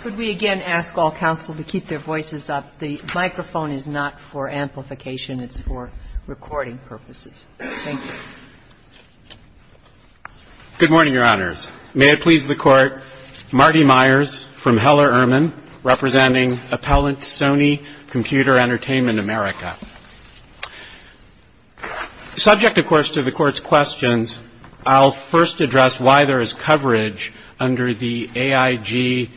Could we again ask all counsel to keep their voices up? The microphone is not for amplification. It's for recording purposes. Thank you. Good morning, Your Honors. May it please the Court, Marty Myers from Heller-Ehrman, representing Appellant Sony Computer Entertainment America. Subject, of course, to the Court's questions, I'll first address why there is coverage under the AIG-AISLIC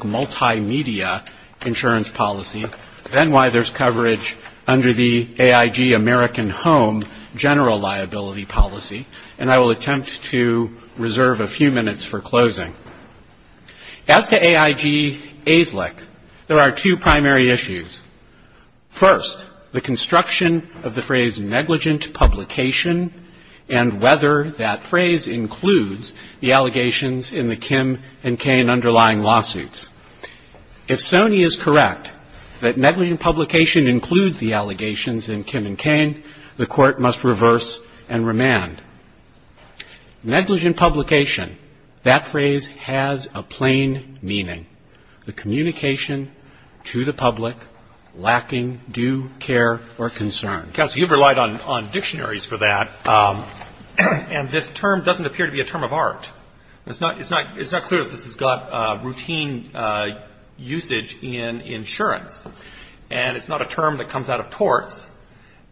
Multimedia Insurance Policy, then why there's coverage under the AIG-American Home General Liability Policy, and I will attempt to reserve a few minutes for closing. As to AIG-AISLIC, there are two primary issues. First, the construction of the phrase negligent publication and whether that phrase includes the allegations in the Kim and Cain underlying lawsuits. If Sony is correct that negligent publication includes the allegations in Kim and Cain, the Court must reverse and remand. Negligent publication, that phrase has a plain meaning. The communication to the public lacking due care or concern. Counsel, you've relied on dictionaries for that, and this term doesn't appear to be a term of art. It's not clear that this has got routine usage in insurance, and it's not a term that comes out of torts.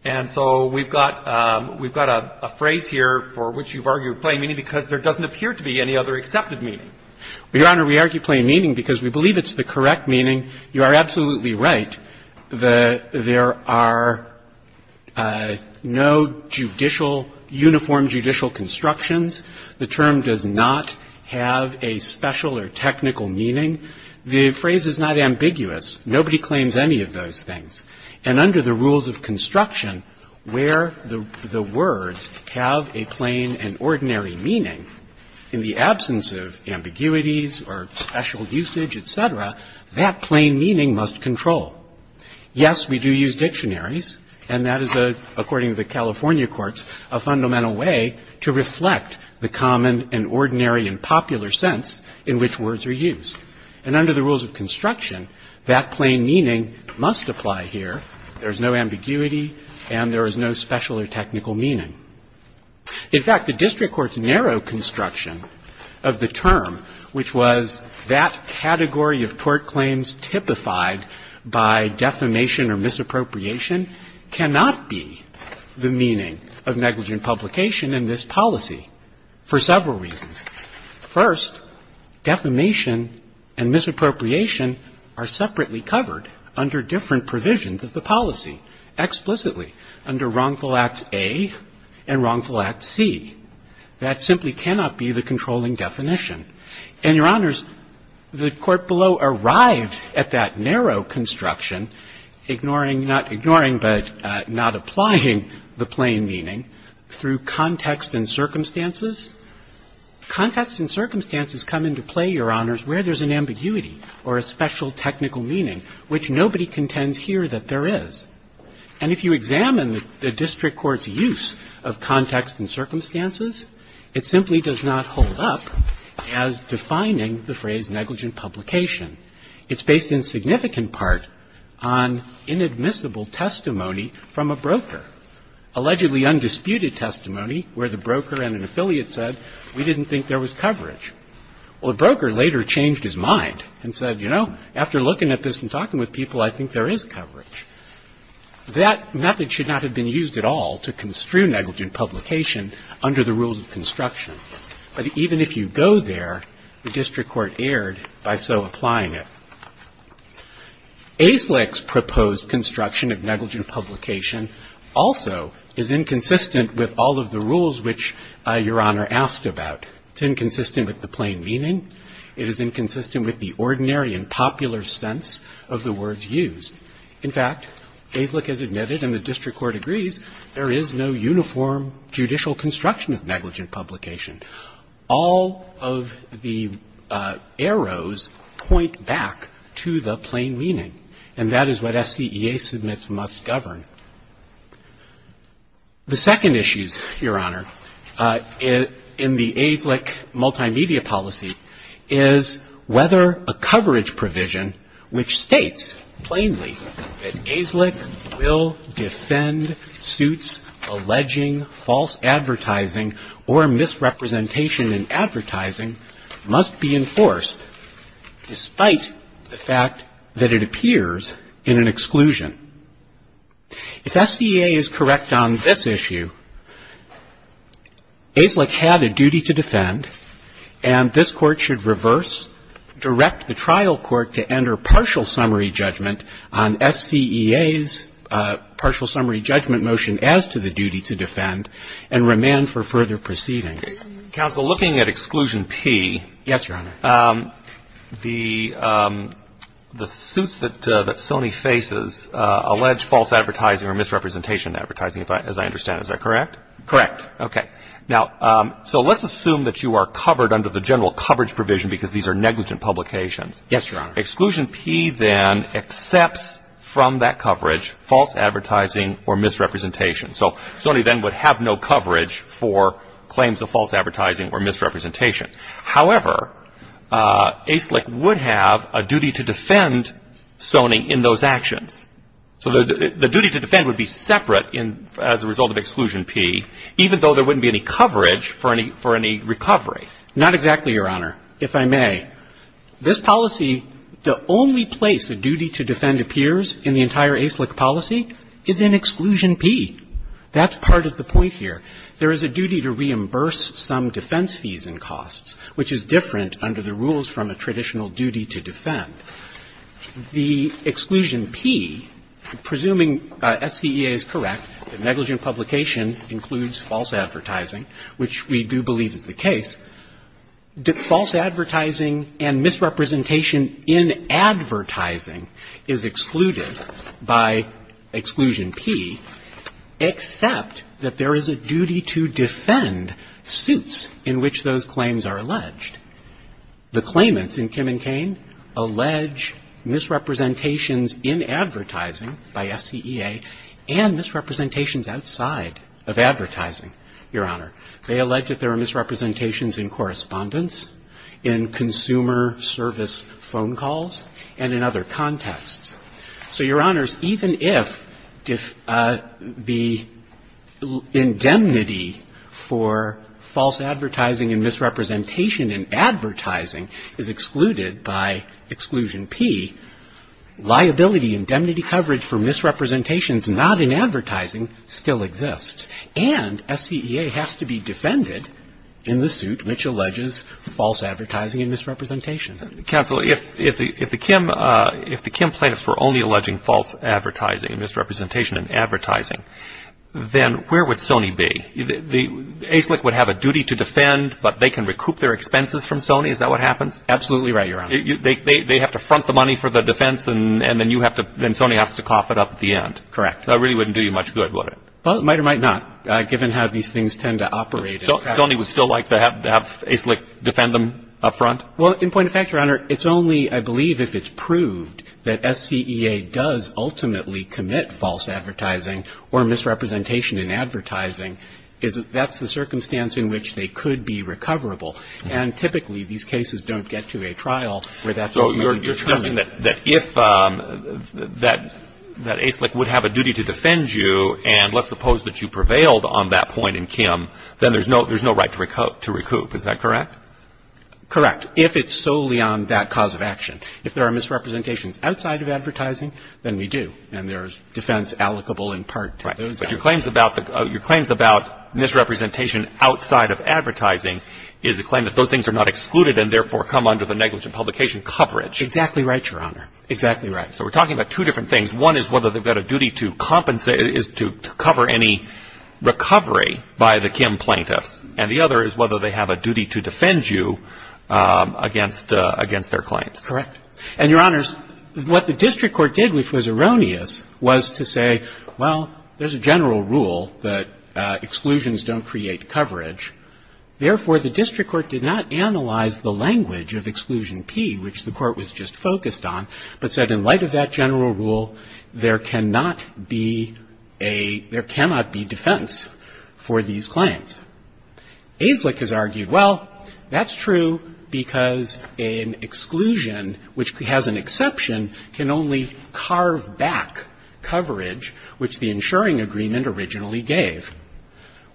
And so we've got a phrase here for which you've argued plain meaning because there doesn't appear to be any other accepted meaning. Well, Your Honor, we argue plain meaning because we believe it's the correct meaning. You are absolutely right. There are no judicial, uniform judicial constructions. The term does not have a special or technical meaning. The phrase is not ambiguous. Nobody claims any of those things. And under the rules of construction where the words have a plain and ordinary meaning in the absence of ambiguities or special usage, et cetera, that plain meaning must control. Yes, we do use dictionaries, and that is, according to the California courts, a fundamental way to reflect the common and ordinary and popular sense in which words are used. And under the rules of construction, that plain meaning must apply here. There is no ambiguity, and there is no special or technical meaning. In fact, the district court's narrow construction of the term, which was that category of tort claims typified by defamation or misappropriation, cannot be the meaning of negligent publication in this policy for several reasons. First, defamation and misappropriation are separately covered under different provisions of the policy. Explicitly, under Wrongful Act A and Wrongful Act C, that simply cannot be the controlling definition. And, Your Honors, the court below arrived at that narrow construction, ignoring not ignoring but not applying the plain meaning through context and circumstances. Context and circumstances come into play, Your Honors, where there's an ambiguity or a special technical meaning, which nobody contends here that there is. And if you examine the district court's use of context and circumstances, it simply does not hold up as defining the phrase negligent publication. It's based in significant part on inadmissible testimony from a broker, allegedly undisputed testimony where the broker and an affiliate said, we didn't think there was coverage. Well, the broker later changed his mind and said, you know, after looking at this and talking with people, I think there is coverage. That method should not have been used at all to construe negligent publication under the rules of construction. But even if you go there, the district court erred by so applying it. ASLIC's proposed construction of negligent publication also is inconsistent with all of the rules which Your Honor asked about. It's inconsistent with the plain meaning. It is inconsistent with the ordinary and popular sense of the words used. In fact, ASLIC has admitted, and the district court agrees, there is no uniform judicial construction of negligent publication. All of the arrows point back to the plain meaning, and that is what SCEA submits must govern. The second issue, Your Honor, in the ASLIC multimedia policy is whether a coverage provision which states plainly that ASLIC will defend suits alleging false advertising or misrepresentation in advertising must be enforced despite the fact that it appears in an exclusion. If SCEA is correct on this issue, ASLIC had a duty to defend, and this Court should reverse, direct the trial court to enter partial summary judgment on SCEA's partial summary judgment motion as to the duty to defend and remand for further proceedings. Counsel, looking at Exclusion P. Yes, Your Honor. The suits that Sony faces allege false advertising or misrepresentation in advertising, as I understand. Is that correct? Correct. Okay. Now, so let's assume that you are covered under the general coverage provision because these are negligent publications. Yes, Your Honor. Exclusion P then accepts from that coverage false advertising or misrepresentation. So Sony then would have no coverage for claims of false advertising or misrepresentation. However, ASLIC would have a duty to defend Sony in those actions. So the duty to defend would be separate as a result of Exclusion P, even though there wouldn't be any coverage for any recovery. Not exactly, Your Honor, if I may. Okay. This policy, the only place the duty to defend appears in the entire ASLIC policy is in Exclusion P. That's part of the point here. There is a duty to reimburse some defense fees and costs, which is different under the rules from a traditional duty to defend. The Exclusion P, presuming SCEA is correct, negligent publication includes false advertising, which we do believe is the case. False advertising and misrepresentation in advertising is excluded by Exclusion P, except that there is a duty to defend suits in which those claims are alleged. The claimants in Kim and Cain allege misrepresentations in advertising by SCEA and misrepresentations outside of advertising, Your Honor. They allege that there are misrepresentations in correspondence, in consumer service phone calls, and in other contexts. So, Your Honors, even if the indemnity for false advertising and misrepresentation in advertising is excluded by Exclusion P, liability, indemnity coverage for misrepresentations not in advertising still exists. And SCEA has to be defended in the suit which alleges false advertising and misrepresentation. Counsel, if the Kim plaintiffs were only alleging false advertising and misrepresentation in advertising, then where would Sony be? The ACLIC would have a duty to defend, but they can recoup their expenses from Sony, is that what happens? Absolutely right, Your Honor. They have to front the money for the defense, and then you have to, then Sony has to cough it up at the end. Correct. That really wouldn't do you much good, would it? Well, it might or might not, given how these things tend to operate. So Sony would still like to have ACLIC defend them up front? Well, in point of fact, Your Honor, it's only, I believe, if it's proved that SCEA does ultimately commit false advertising or misrepresentation in advertising, is that that's the circumstance in which they could be recoverable. And typically, these cases don't get to a trial where that's ultimately determined. So you're suggesting that if that ACLIC would have a duty to defend you, and let's suppose that you prevailed on that point in Kim, then there's no right to recoup, is that correct? Correct. If it's solely on that cause of action. If there are misrepresentations outside of advertising, then we do, and there's defense allocable in part to those actions. Right. But your claims about misrepresentation outside of advertising is a claim that those So we're talking about two different things. One is whether they've got a duty to compensate, is to cover any recovery by the Kim plaintiffs. And the other is whether they have a duty to defend you against their claims. Correct. And, Your Honors, what the district court did, which was erroneous, was to say, well, there's a general rule that exclusions don't create coverage. Therefore, the district court did not analyze the language of exclusion P, which the court was just focused on, but said in light of that general rule, there cannot be defense for these claims. AZLIC has argued, well, that's true because an exclusion, which has an exception, can only carve back coverage, which the insuring agreement originally gave.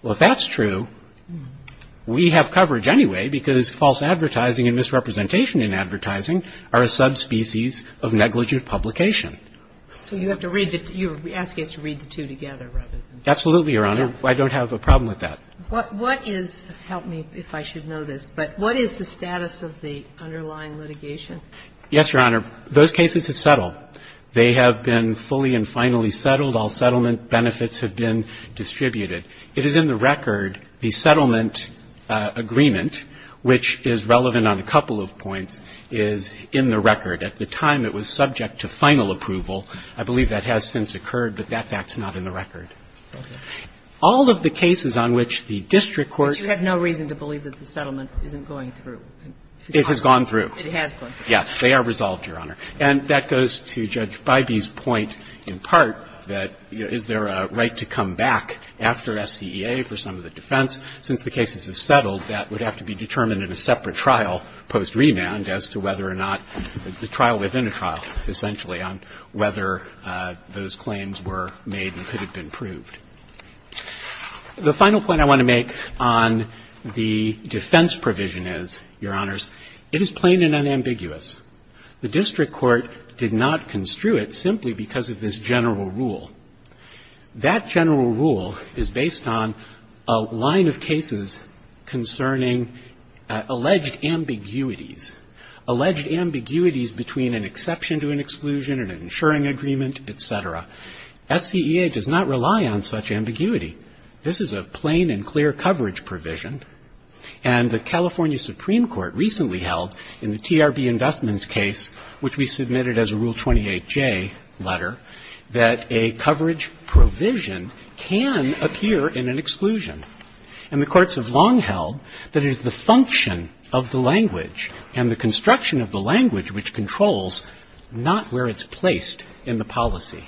Well, if that's true, we have coverage anyway because false advertising and misrepresentation in advertising are a subspecies of negligent publication. So you have to read the two. You're asking us to read the two together rather than. Absolutely, Your Honor. I don't have a problem with that. What is, help me if I should know this, but what is the status of the underlying litigation? Yes, Your Honor. Those cases have settled. They have been fully and finally settled. All settlement benefits have been distributed. It is in the record. The settlement agreement, which is relevant on a couple of points, is in the record. At the time it was subject to final approval. I believe that has since occurred, but that fact is not in the record. All of the cases on which the district court. But you have no reason to believe that the settlement isn't going through. It has gone through. It has gone through. They are resolved, Your Honor. And that goes to Judge Bybee's point in part that, you know, is there a right to come back after SCEA for some of the defense? Since the cases have settled, that would have to be determined in a separate trial post-remand as to whether or not the trial within a trial, essentially, on whether those claims were made and could have been proved. The final point I want to make on the defense provision is, Your Honors, it is plain and unambiguous. The district court did not construe it simply because of this general rule. That general rule is based on a line of cases concerning alleged ambiguities, alleged ambiguities between an exception to an exclusion and an insuring agreement, et cetera. SCEA does not rely on such ambiguity. This is a plain and clear coverage provision. And the California Supreme Court recently held in the TRB investments case, which we submitted as a Rule 28J letter, that a coverage provision can appear in an exclusion. And the courts have long held that it is the function of the language and the construction of the language which controls not where it's placed in the policy.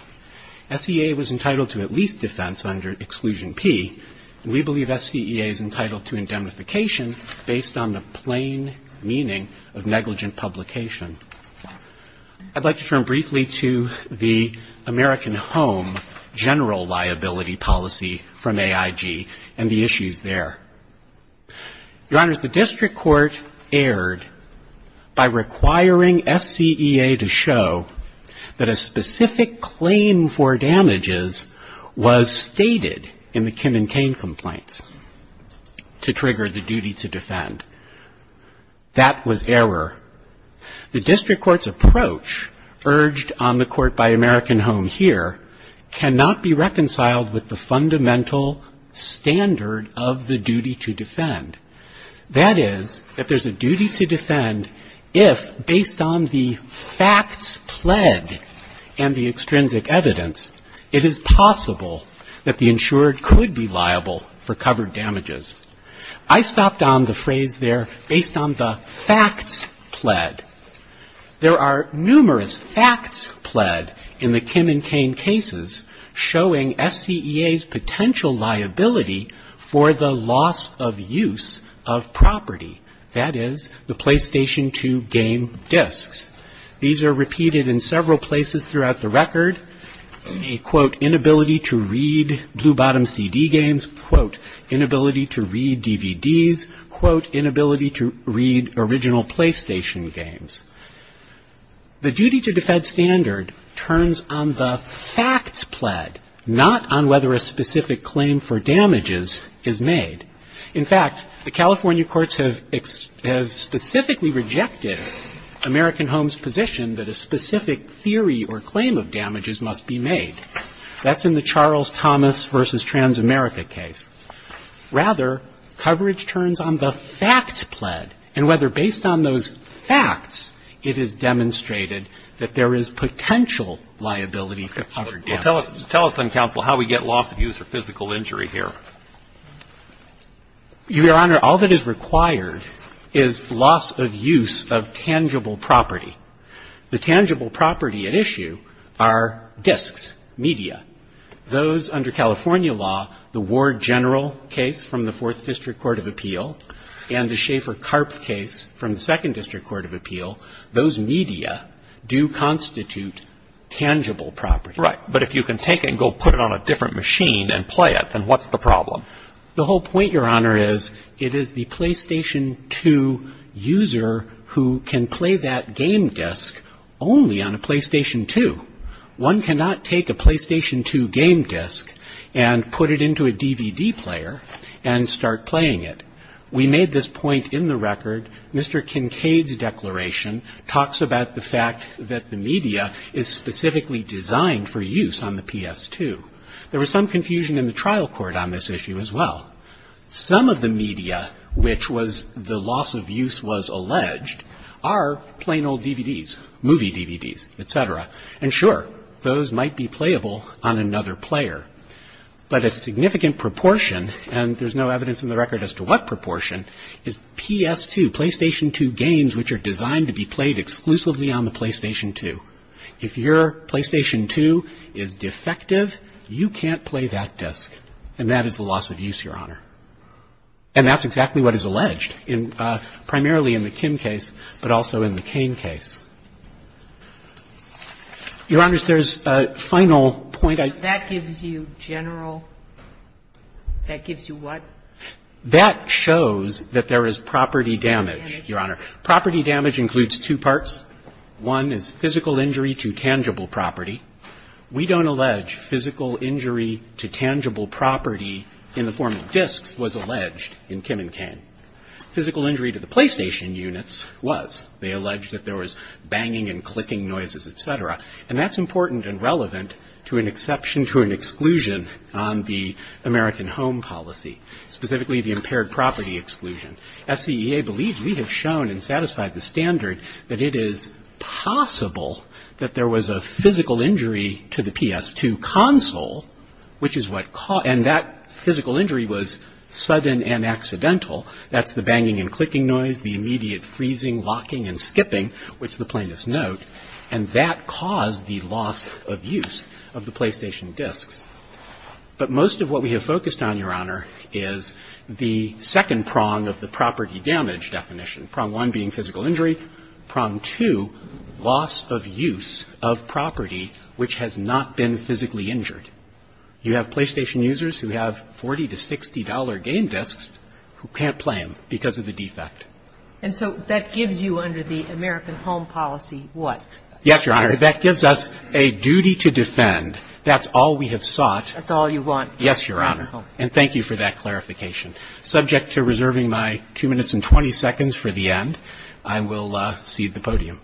SCEA was entitled to at least defense under Exclusion P. And we believe SCEA is entitled to indemnification based on the plain meaning of negligent publication. I'd like to turn briefly to the American Home general liability policy from AIG and the issues there. Your Honors, the district court erred by requiring SCEA to show that a specific claim for damages was stated in the Kim and Cain complaints to trigger the duty to defend. That was error. The district court's approach, urged on the Court by American Home here, cannot be reconciled with the fundamental standard of the duty to defend. That is, that there's a duty to defend if, based on the facts pledged and the extrinsic evidence, it is possible that the insured could be liable for covered damages. I stopped on the phrase there, based on the facts pled. There are numerous facts pled in the Kim and Cain cases showing SCEA's potential liability for the loss of use of property. That is, the PlayStation 2 game discs. These are repeated in several places throughout the record. The, quote, inability to read Blue Bottom CD games, quote, inability to read DVDs, quote, inability to read original PlayStation games. The duty to defend standard turns on the facts pled, not on whether a specific claim for damages is made. In fact, the California courts have specifically rejected American Home's position that a specific theory or claim of damages must be made. That's in the Charles Thomas v. Transamerica case. Rather, coverage turns on the facts pled and whether, based on those facts, it is demonstrated that there is potential liability for covered damages. Tell us, counsel, how we get loss of use or physical injury here. Your Honor, all that is required is loss of use of tangible property. The tangible property at issue are discs, media. Those under California law, the Ward General case from the Fourth District Court of Appeal and the Schaefer-Karpf case from the Second District Court of Appeal, those media do constitute tangible property. Right. But if you can take it and go put it on a different machine and play it, then what's the problem? The whole point, Your Honor, is it is the PlayStation 2 user who can play that game disc only on a PlayStation 2. One cannot take a PlayStation 2 game disc and put it into a DVD player and start playing it. We made this point in the record. Mr. Kincaid's declaration talks about the fact that the media is specifically designed for use on the PS2. There was some confusion in the trial court on this issue as well. Some of the media which was the loss of use was alleged are plain old DVDs, movie DVDs, et cetera. And sure, those might be playable on another player. But a significant proportion, and there's no evidence in the record as to what proportion, is PS2, PlayStation 2 games which are designed to be played exclusively on the PlayStation 2. If your PlayStation 2 is defective, you can't play that disc. And that is the loss of use, Your Honor. And that's exactly what is alleged, primarily in the Kim case, but also in the Kane case. Your Honors, there's a final point I'd like to make. That gives you general? That gives you what? That shows that there is property damage, Your Honor. Property damage includes two parts. One is physical injury to tangible property. We don't allege physical injury to tangible property in the form of discs was alleged in Kim and Kane. Physical injury to the PlayStation units was. They alleged that there was banging and clicking noises, et cetera. And that's important and relevant to an exception to an exclusion on the American Home Policy, specifically the impaired property exclusion. SCEA believes we have shown and satisfied the standard that it is possible that there was a physical injury to the PS2 console, which is what caused. And that physical injury was sudden and accidental. That's the banging and clicking noise, the immediate freezing, locking, and skipping, which the plaintiffs note. And that caused the loss of use of the PlayStation discs. But most of what we have focused on, Your Honor, is the second prong of the property damage definition, prong one being physical injury, prong two, loss of use of property which has not been physically injured. You have PlayStation users who have $40 to $60 game discs who can't play them because of the defect. And so that gives you under the American Home Policy what? Yes, Your Honor. That gives us a duty to defend. That's all we have sought. That's all you want. Yes, Your Honor. And thank you for that clarification. Subject to reserving my 2 minutes and 20 seconds for the end, I will cede the podium.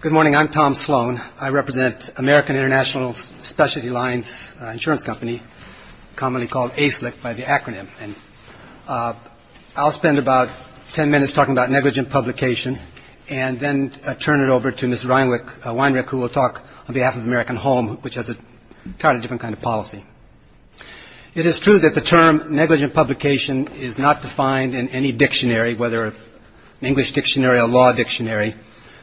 Good morning. I'm Tom Sloan. I represent American International Specialty Lines Insurance Company, commonly called ASLIC by the acronym. I'll spend about 10 minutes talking about negligent publication and then turn it over to Ms. Weinrich who will talk on behalf of American Home, which has an entirely different kind of policy. It is true that the term negligent publication is not defined in any dictionary, whether an English dictionary or a law dictionary.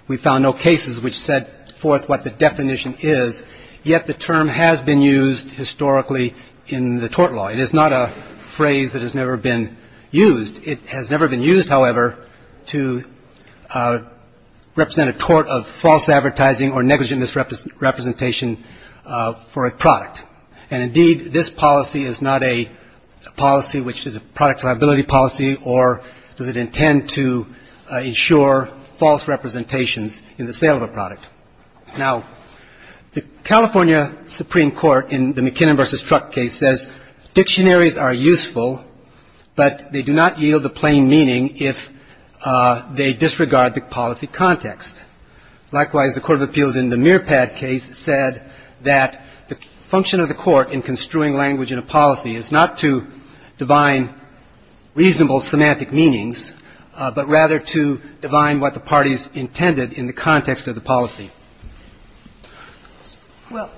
We found no cases which set forth what the definition is, yet the term has been used historically in the tort law. It is not a phrase that has never been used. It has never been used, however, to represent a tort of false advertising or negligent misrepresentation for a product. And indeed, this policy is not a policy which is a product liability policy or does it intend to ensure false representations in the sale of a product. Now, the California Supreme Court in the McKinnon v. Truck case says dictionaries are useful, but they do not yield a plain meaning if they disregard the policy context. Likewise, the Court of Appeals in the Mearpad case said that the function of the court in construing language in a policy is not to divine reasonable semantic meanings, but rather to divine what the parties intended in the context of the policy. Well,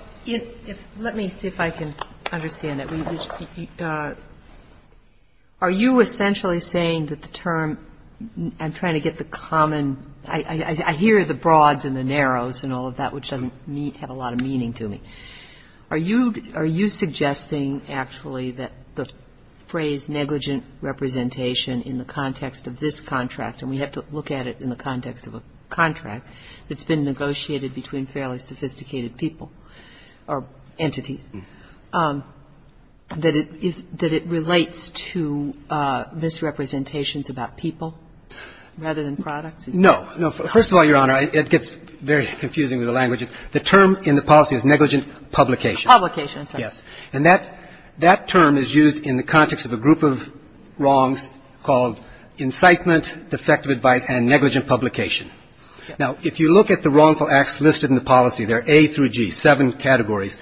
let me see if I can understand it. Are you essentially saying that the term, I'm trying to get the common, I hear the broads and the narrows and all of that, which doesn't have a lot of meaning to me. Are you suggesting actually that the phrase negligent representation in the context of this contract, and we have to look at it in the context of a contract that's been negotiated between fairly sophisticated people or entities, that it relates to misrepresentations about people rather than products? No. No. First of all, Your Honor, it gets very confusing with the language. The term in the policy is negligent publication. Publication, I'm sorry. Yes. And that term is used in the context of a group of wrongs called incitement, defective advice, and negligent publication. Now, if you look at the wrongful acts listed in the policy, they're A through G, seven categories,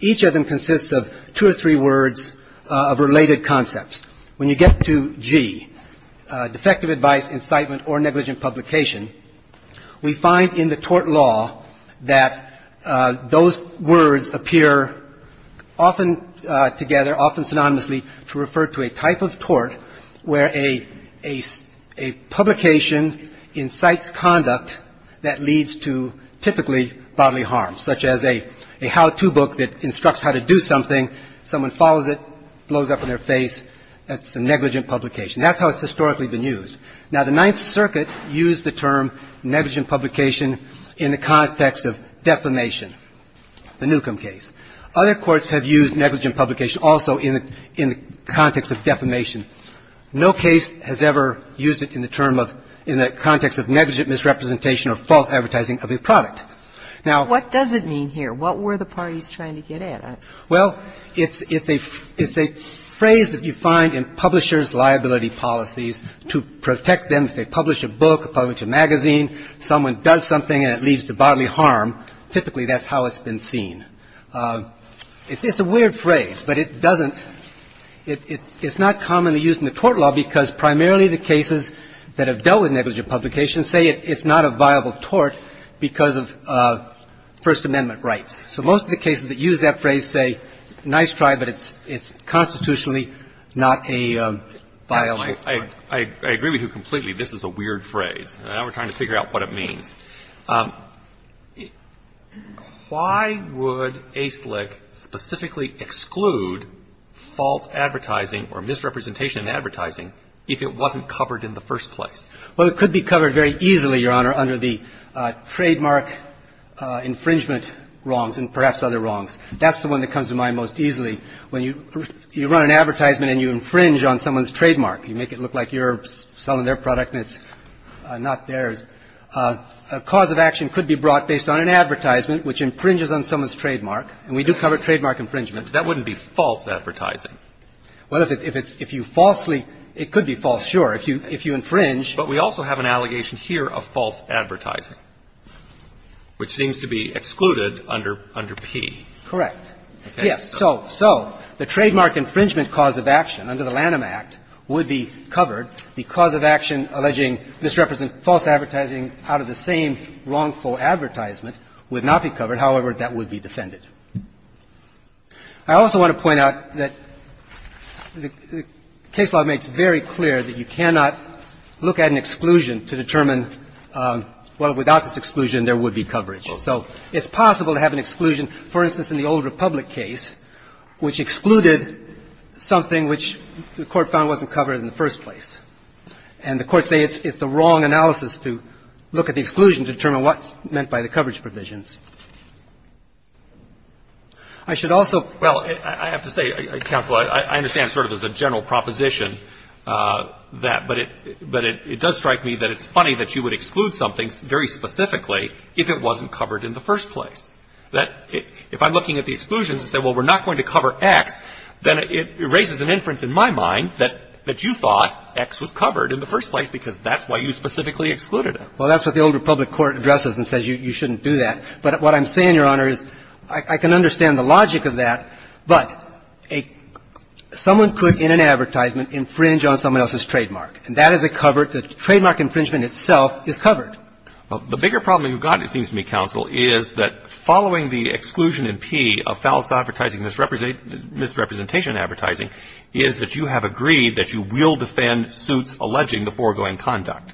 each of them consists of two or three words of related concepts. When you get to G, defective advice, incitement, or negligent publication, we find in the tort law that those words appear often together, often synonymously to refer to a type of tort where a publication incites conduct that leads to typically bodily harm, such as a how-to book that instructs how to do something, someone follows it, blows up in their face, that's a negligent publication. That's how it's historically been used. Now, the Ninth Circuit used the term negligent publication in the context of defamation, the Newcomb case. Other courts have used negligent publication also in the context of defamation. No case has ever used it in the term of, in the context of negligent misrepresentation or false advertising of a product. Now — What does it mean here? What were the parties trying to get at? Well, it's a phrase that you find in publisher's liability policies to protect them. If they publish a book or publish a magazine, someone does something and it leads to bodily harm, typically that's how it's been seen. It's a weird phrase, but it doesn't — it's not commonly used in the tort law because primarily the cases that have dealt with negligent publication say it's not a viable tort because of First Amendment rights. So most of the cases that use that phrase say, nice try, but it's constitutionally not a viable tort. I agree with you completely. This is a weird phrase. Now we're trying to figure out what it means. Why would ASLIC specifically exclude false advertising or misrepresentation in advertising if it wasn't covered in the first place? Well, it could be covered very easily, Your Honor, under the trademark infringement clause. And that's the one that comes to mind most easily. You run an advertisement and you infringe on someone's trademark. You make it look like you're selling their product and it's not theirs. A cause of action could be brought based on an advertisement which infringes on someone's trademark, and we do cover trademark infringement. But that wouldn't be false advertising. Well, if you falsely — it could be false, sure. If you infringe. But we also have an allegation here of false advertising, which seems to be excluded under P. Correct. Yes. So the trademark infringement cause of action under the Lanham Act would be covered. The cause of action alleging misrepresentation of false advertising out of the same wrongful advertisement would not be covered. However, that would be defended. I also want to point out that the case law makes very clear that you cannot look at an exclusion to determine, well, without this exclusion, there would be coverage. So it's possible to have an exclusion, for instance, in the Old Republic case, which excluded something which the Court found wasn't covered in the first place. And the courts say it's the wrong analysis to look at the exclusion to determine what's meant by the coverage provisions. I should also — Well, I have to say, Counsel, I understand sort of as a general proposition that — but it does strike me that it's funny that you would exclude something very specifically if it wasn't covered in the first place. If I'm looking at the exclusions and say, well, we're not going to cover X, then it raises an inference in my mind that you thought X was covered in the first place because that's why you specifically excluded it. Well, that's what the Old Republic court addresses and says you shouldn't do that. But what I'm saying, Your Honor, is I can understand the logic of that, but a — someone could, in an advertisement, infringe on someone else's trademark. And that is a covered — the trademark infringement itself is covered. Well, the bigger problem you've got, it seems to me, Counsel, is that following the exclusion in P of false advertising, misrepresentation advertising, is that you have agreed that you will defend suits alleging the foregoing conduct.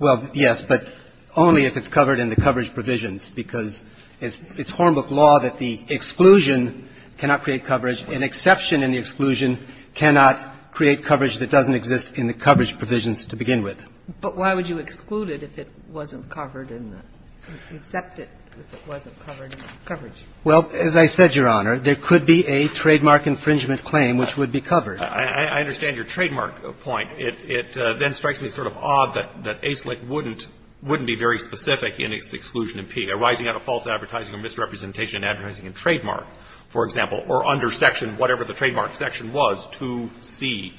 Well, yes, but only if it's covered in the coverage provisions, because it's Hornbook law that the exclusion cannot create coverage. An exception in the exclusion cannot create coverage that doesn't exist in the coverage provisions to begin with. But why would you exclude it if it wasn't covered in the — accept it if it wasn't covered in the coverage? Well, as I said, Your Honor, there could be a trademark infringement claim which would be covered. I understand your trademark point. It then strikes me sort of odd that AISLIC wouldn't be very specific in its exclusion in P, arising out of false advertising or misrepresentation advertising in trademark, for example, or under section whatever the trademark section was, 2C.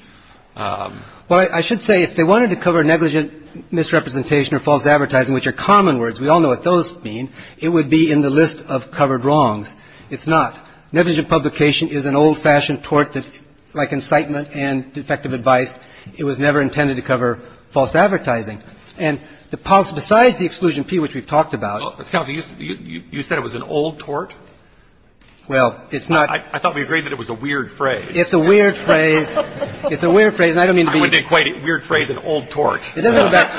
Well, I should say if they wanted to cover negligent misrepresentation or false advertising, which are common words, we all know what those mean, it would be in the list of covered wrongs. It's not. Negligent publication is an old-fashioned tort that, like incitement and defective advice, it was never intended to cover false advertising. And the — besides the exclusion in P, which we've talked about — Counsel, you said it was an old tort? Well, it's not — I thought we agreed that it was a weird phrase. It's a weird phrase. It's a weird phrase, and I don't mean to be — I wouldn't equate a weird phrase with an old tort. It doesn't affect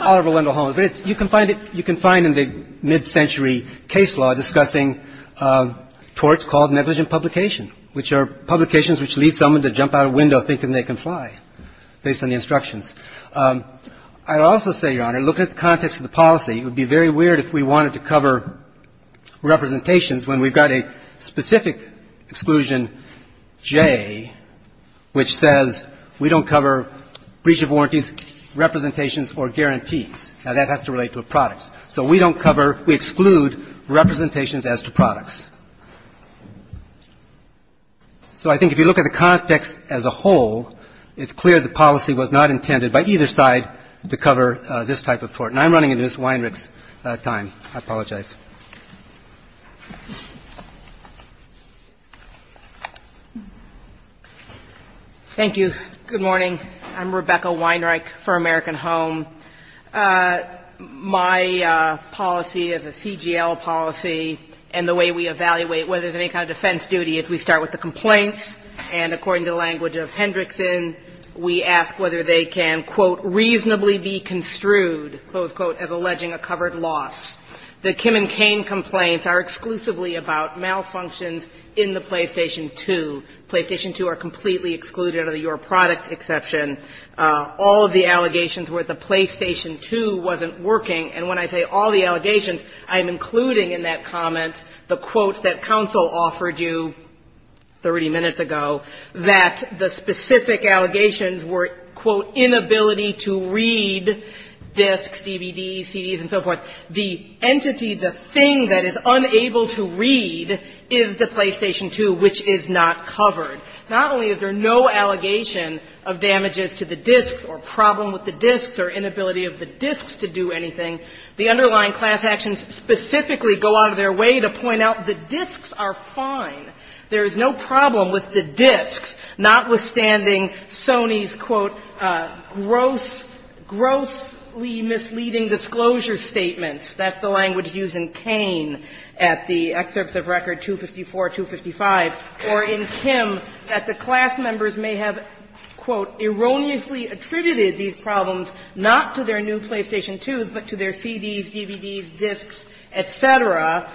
Oliver Wendell Holmes. But it's — you can find it — you can find in the mid-century case law discussing torts called negligent publication, which are publications which lead someone to jump out a window thinking they can fly, based on the instructions. I would also say, Your Honor, looking at the context of the policy, it would be very weird if we wanted to cover representations when we've got a specific exclusion, J, which says we don't cover breach of warranties, representations, or guarantees. Now, that has to relate to a product. So we don't cover — we exclude representations as to products. So I think if you look at the context as a whole, it's clear the policy was not intended by either side to cover this type of tort. And I'm running into Ms. Weinreich's time. I apologize. Thank you. Good morning. I'm Rebecca Weinreich for American Home. My policy as a CGL policy and the way we evaluate whether there's any kind of defense duty is we start with the complaints, and according to the language of Hendrickson, we ask whether they can, quote, reasonably be construed, close quote, as alleging a covered loss. The Kim and Cain complaints are exclusively about malfunctions in the PlayStation 2. PlayStation 2 are completely excluded under your product exception. All of the allegations were that the PlayStation 2 wasn't working. And when I say all the allegations, I'm including in that comment the quotes that counsel offered you 30 minutes ago, that the specific allegations were, quote, inability to read discs, DVDs, CDs, and so forth. The entity, the thing that is unable to read is the PlayStation 2, which is not covered. Not only is there no allegation of damages to the discs or problem with the discs or inability of the discs to do anything, the underlying class actions specifically go out of their way to point out the discs are fine. There is no problem with the discs, notwithstanding Sony's, quote, grossly misleading disclosure statements. That's the language used in Cain at the excerpts of record 254, 255, or in Kim, that the class members may have, quote, erroneously attributed these problems not to their new PlayStation 2s, but to their CDs, DVDs, discs, et cetera,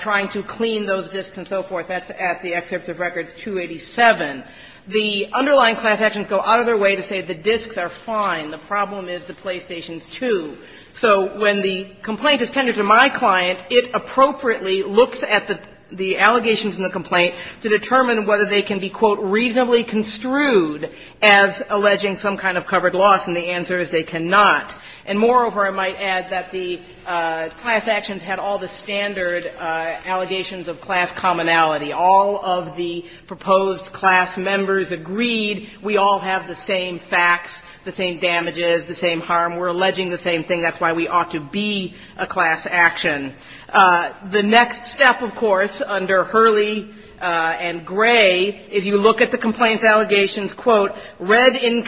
trying to clean those discs and so forth. That's at the excerpts of record 287. The underlying class actions go out of their way to say the discs are fine. The problem is the PlayStation 2. So when the complaint is tended to my client, it appropriately looks at the allegations in the complaint to determine whether they can be, quote, reasonably construed as alleging some kind of covered loss, and the answer is they cannot. And moreover, I might add that the class actions had all the standard allegations of class commonality. All of the proposed class members agreed we all have the same facts, the same damages, the same harm. We're alleging the same thing. That's why we ought to be a class action. The next step, of course, under Hurley and Gray, is you look at the complaints allegations, quote, read in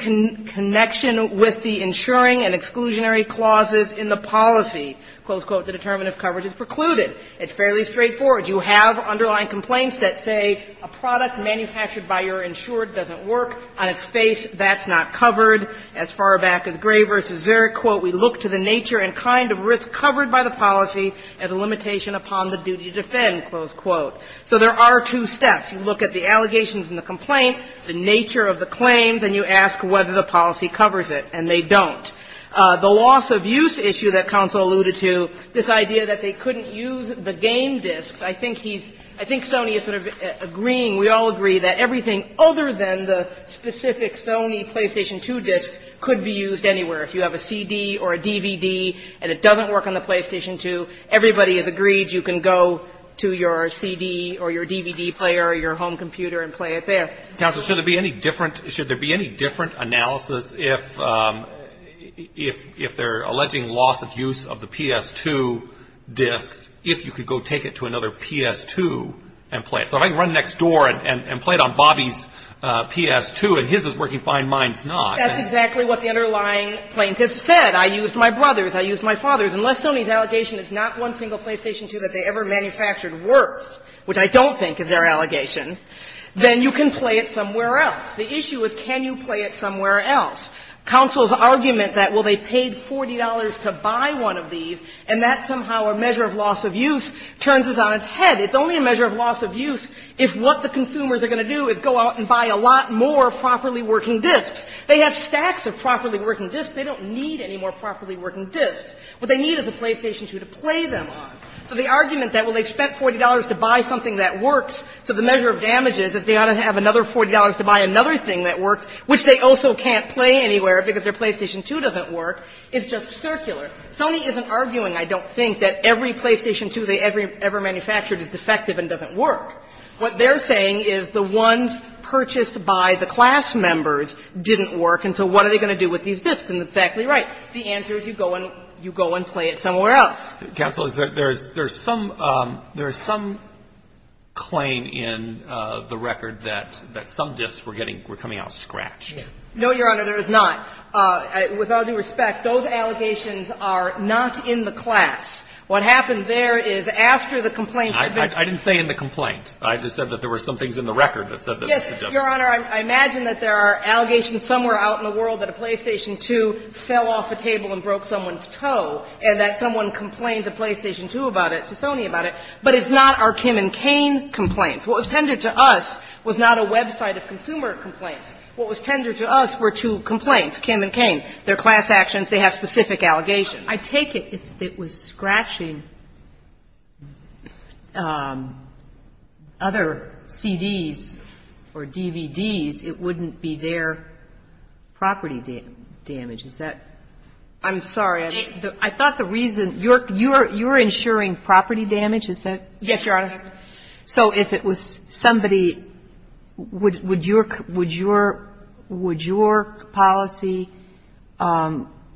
connection with the insuring and exclusionary clauses in the policy. Close quote, the determinant of coverage is precluded. It's fairly straightforward. You have underlying complaints that say a product manufactured by your insured doesn't work. On its face, that's not covered. As far back as Gray v. Zerich, quote, we look to the nature and kind of risk covered by the policy as a limitation upon the duty to defend, close quote. So there are two steps. You look at the allegations in the complaint, the nature of the claims, and you ask whether the policy covers it, and they don't. The loss of use issue that counsel alluded to, this idea that they couldn't use the game discs, I think he's – I think Sony is sort of agreeing, we all agree, that everything other than the specific Sony PlayStation 2 discs could be used anywhere. If you have a CD or a DVD and it doesn't work on the PlayStation 2, everybody has agreed you can go to your CD or your DVD player or your home computer and play it there. Counsel, should there be any different – should there be any different analysis if – if they're alleging loss of use of the PS2 discs, if you could go take it to another PS2 and play it? So if I can run next door and play it on Bobby's PS2 and his is working fine, mine's not. That's exactly what the underlying plaintiff said. I used my brother's, I used my father's. Unless Sony's allegation is not one single PlayStation 2 that they ever manufactured worth, which I don't think is their allegation, then you can play it somewhere else. The issue is can you play it somewhere else. Counsel's argument that, well, they paid $40 to buy one of these, and that somehow a measure of loss of use turns us on its head. It's only a measure of loss of use if what the consumers are going to do is go out and buy a lot more properly working discs. They have stacks of properly working discs. They don't need any more properly working discs. What they need is a PlayStation 2 to play them on. So the argument that, well, they spent $40 to buy something that works, so the measure of damage is, is they ought to have another $40 to buy another thing that works, which they also can't play anywhere because their PlayStation 2 doesn't work, is just circular. Sony isn't arguing, I don't think, that every PlayStation 2 they ever manufactured is defective and doesn't work. What they're saying is the ones purchased by the class members didn't work, and so what are they going to do with these discs? And it's exactly right. The answer is you go and play it somewhere else. Counsel, there's some claim in the record that some discs were getting – were coming out scratched. No, Your Honor, there is not. With all due respect, those allegations are not in the class. What happened there is after the complaints had been – I didn't say in the complaint. I just said that there were some things in the record that said that it's a defective disc. Yes, Your Honor, I imagine that there are allegations somewhere out in the world that a PlayStation 2 fell off a table and broke someone's toe and that someone complained to PlayStation 2 about it, to Sony about it, but it's not our Kim and Cain complaints. What was tendered to us was not a website of consumer complaints. What was tendered to us were two complaints, Kim and Cain. They're class actions. They have specific allegations. I take it if it was scratching other CDs or DVDs, it wouldn't be their property damage. Is that – I'm sorry. I thought the reason – you're insuring property damage, is that correct? Yes, Your Honor. So if it was somebody – would your policy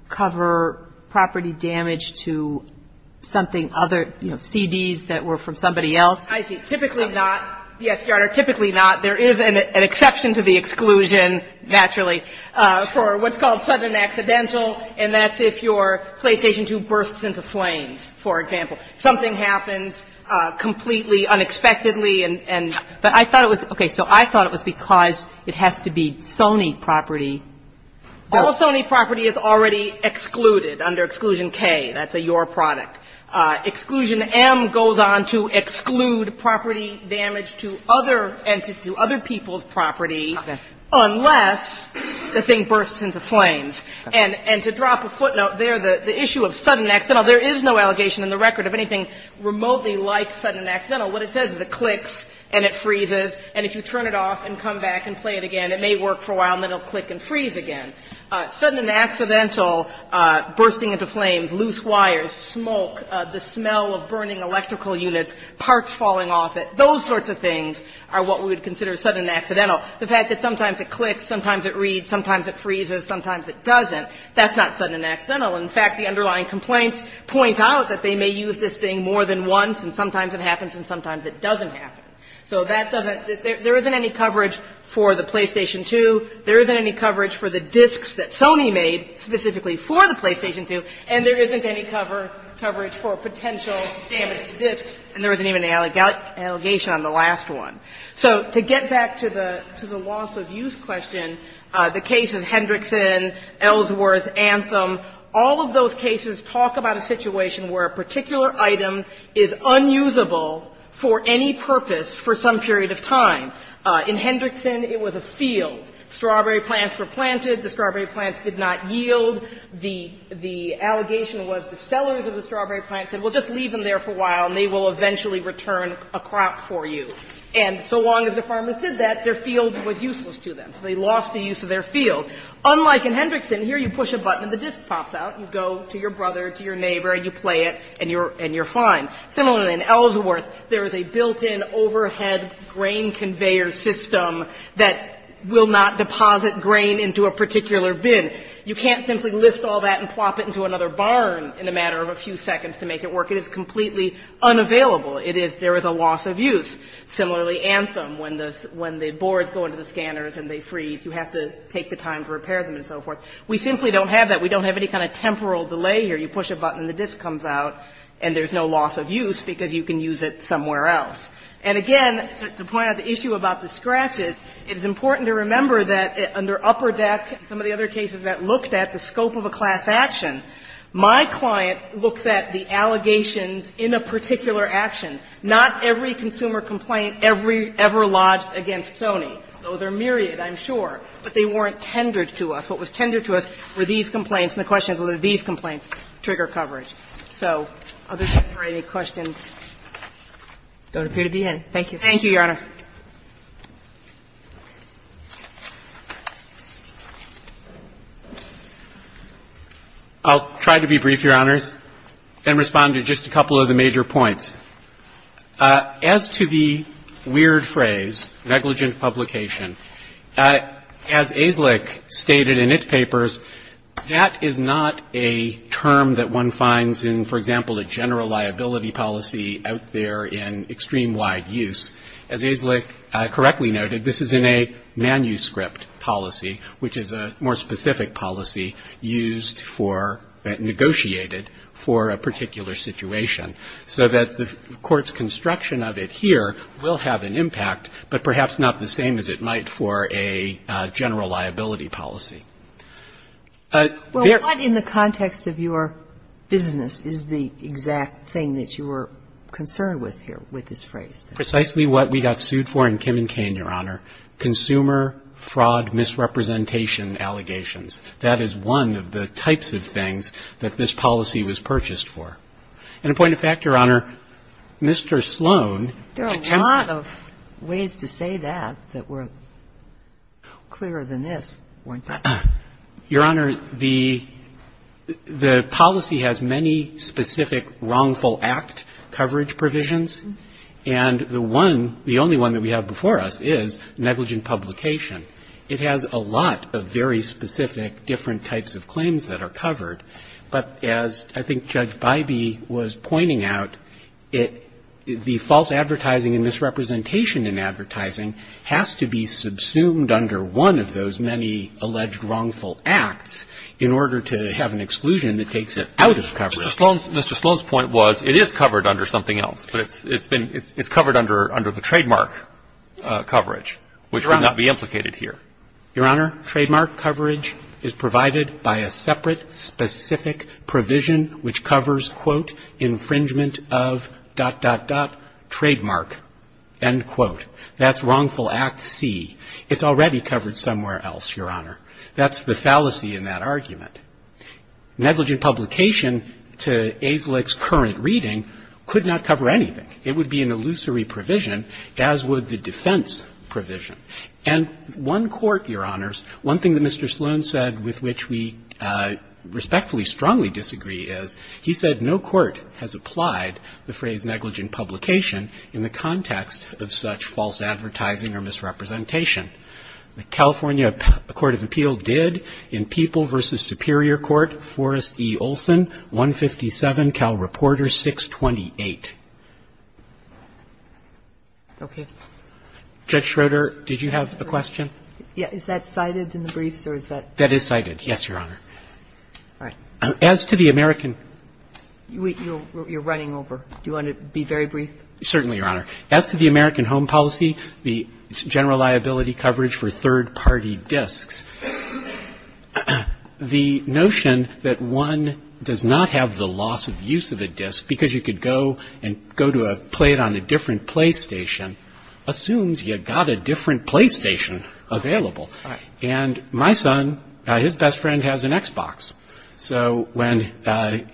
cover property damage to something other – you know, CDs that were from somebody else? I see. Typically not. Yes, Your Honor, typically not. There is an exception to the exclusion, naturally, for what's called sudden accidental, and that's if your PlayStation 2 bursts into flames, for example. Something happens completely unexpectedly and – but I thought it was – okay. So I thought it was because it has to be Sony property. All Sony property is already excluded under Exclusion K. That's a Your product. Exclusion M goes on to exclude property damage to other – and to other people's property unless the thing bursts into flames. And to drop a footnote there, the issue of sudden accidental, there is no allegation in the record of anything remotely like sudden accidental. What it says is it clicks and it freezes, and if you turn it off and come back and play it again, it may work for a while, and then it will click and freeze again. Sudden accidental, bursting into flames, loose wires, smoke, the smell of burning electrical units, parts falling off it, those sorts of things are what we would consider sudden accidental. The fact that sometimes it clicks, sometimes it reads, sometimes it freezes, sometimes it doesn't, that's not sudden accidental. In fact, the underlying complaints point out that they may use this thing more than once, and sometimes it happens and sometimes it doesn't happen. So that doesn't – there isn't any coverage for the PlayStation 2. There isn't any coverage for the discs that Sony made specifically for the PlayStation 2, and there isn't any cover – coverage for potential damage to discs, and there isn't even an allegation on the last one. So to get back to the – to the loss of use question, the case of Hendrickson, Ellsworth, Anthem, all of those cases talk about a situation where a particular item is unusable for any purpose for some period of time. In Hendrickson, it was a field. Strawberry plants were planted. The strawberry plants did not yield. The – the allegation was the sellers of the strawberry plants said, well, just leave them there for a while and they will eventually return a crop for you. And so long as the farmers did that, their field was useless to them. So they lost the use of their field. Unlike in Hendrickson, here you push a button and the disc pops out. You go to your brother, to your neighbor, and you play it, and you're – and you're fine. Similarly, in Ellsworth, there is a built-in overhead grain conveyor system that will not deposit grain into a particular bin. You can't simply lift all that and plop it into another barn in a matter of a few seconds to make it work. It is completely unavailable. It is – there is a loss of use. Similarly, Anthem, when the – when the boards go into the scanners and they freeze, you have to take the time to repair them and so forth. We simply don't have that. We don't have any kind of temporal delay here. You push a button and the disc comes out and there's no loss of use because you can use it somewhere else. And again, to point out the issue about the scratches, it is important to remember that under Upperdeck and some of the other cases that looked at the scope of a class action, my client looks at the allegations in a particular action, not every consumer complaint ever lodged against Sony. Those are myriad, I'm sure, but they weren't tendered to us. What was tendered to us were these complaints, and the question is, were these complaints trigger coverage? So, other than that, are there any questions? Don't appear to be any. Thank you. Thank you, Your Honor. I'll try to be brief, Your Honors, and respond to just a couple of the major points. As to the weird phrase, negligent publication, as AISLIC stated in its papers, that is not a term that one finds in, for example, a general liability policy out there in extreme wide use. As AISLIC correctly noted, this is in a manuscript policy, which is a more specific policy used for, negotiated for a particular situation, so that the Court's construction of it here will have an impact, but perhaps not the same as it might for a general liability policy. Well, what in the context of your business is the exact thing that you were concerned with here with this phrase? Precisely what we got sued for in Kim and Cain, Your Honor, consumer fraud misrepresentation allegations. That is one of the types of things that this policy was purchased for. And a point of fact, Your Honor, Mr. Sloan attempted to say that, that we're clearer than this, weren't we? Your Honor, the policy has many specific wrongful act coverage provisions, and the one, the only one that we have before us is negligent publication. It has a lot of very specific different types of claims that are covered, but as I think Judge Bybee was pointing out, the false advertising and misrepresentation in advertising has to be subsumed under one of those many alleged wrongful acts in order to have an exclusion that takes it out of coverage. Mr. Sloan's point was, it is covered under something else, but it's been, it's covered under the trademark coverage, which would not be implicated here. Your Honor, trademark coverage is provided by a separate specific provision which covers, quote, infringement of, dot, dot, dot, trademark, end quote. That's wrongful act C. It's already covered somewhere else, Your Honor. That's the fallacy in that argument. Negligent publication to AZLIC's current reading could not cover anything. It would be an illusory provision, as would the defense provision. And one court, Your Honors, one thing that Mr. Sloan said with which we respectfully strongly disagree is, he said no court has applied the phrase negligent publication in the context of such false advertising or misrepresentation. The California Court of Appeal did. In People v. Superior Court, Forrest E. Olson, 157, Cal Reporter 628. Okay. Judge Schroeder, did you have a question? Is that cited in the briefs, or is that? That is cited, yes, Your Honor. All right. As to the American You're running over. Do you want to be very brief? Certainly, Your Honor. As to the American Home Policy, the general liability coverage for third party disks, and go to a plate on a different PlayStation, assumes you've got a different PlayStation available. And my son, his best friend has an Xbox. So when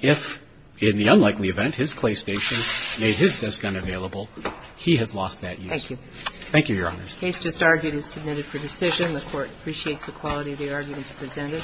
if, in the unlikely event, his PlayStation made his disk unavailable, he has lost that use. Thank you. Thank you, Your Honors. The case just argued is submitted for decision. The Court appreciates the quality of the arguments presented.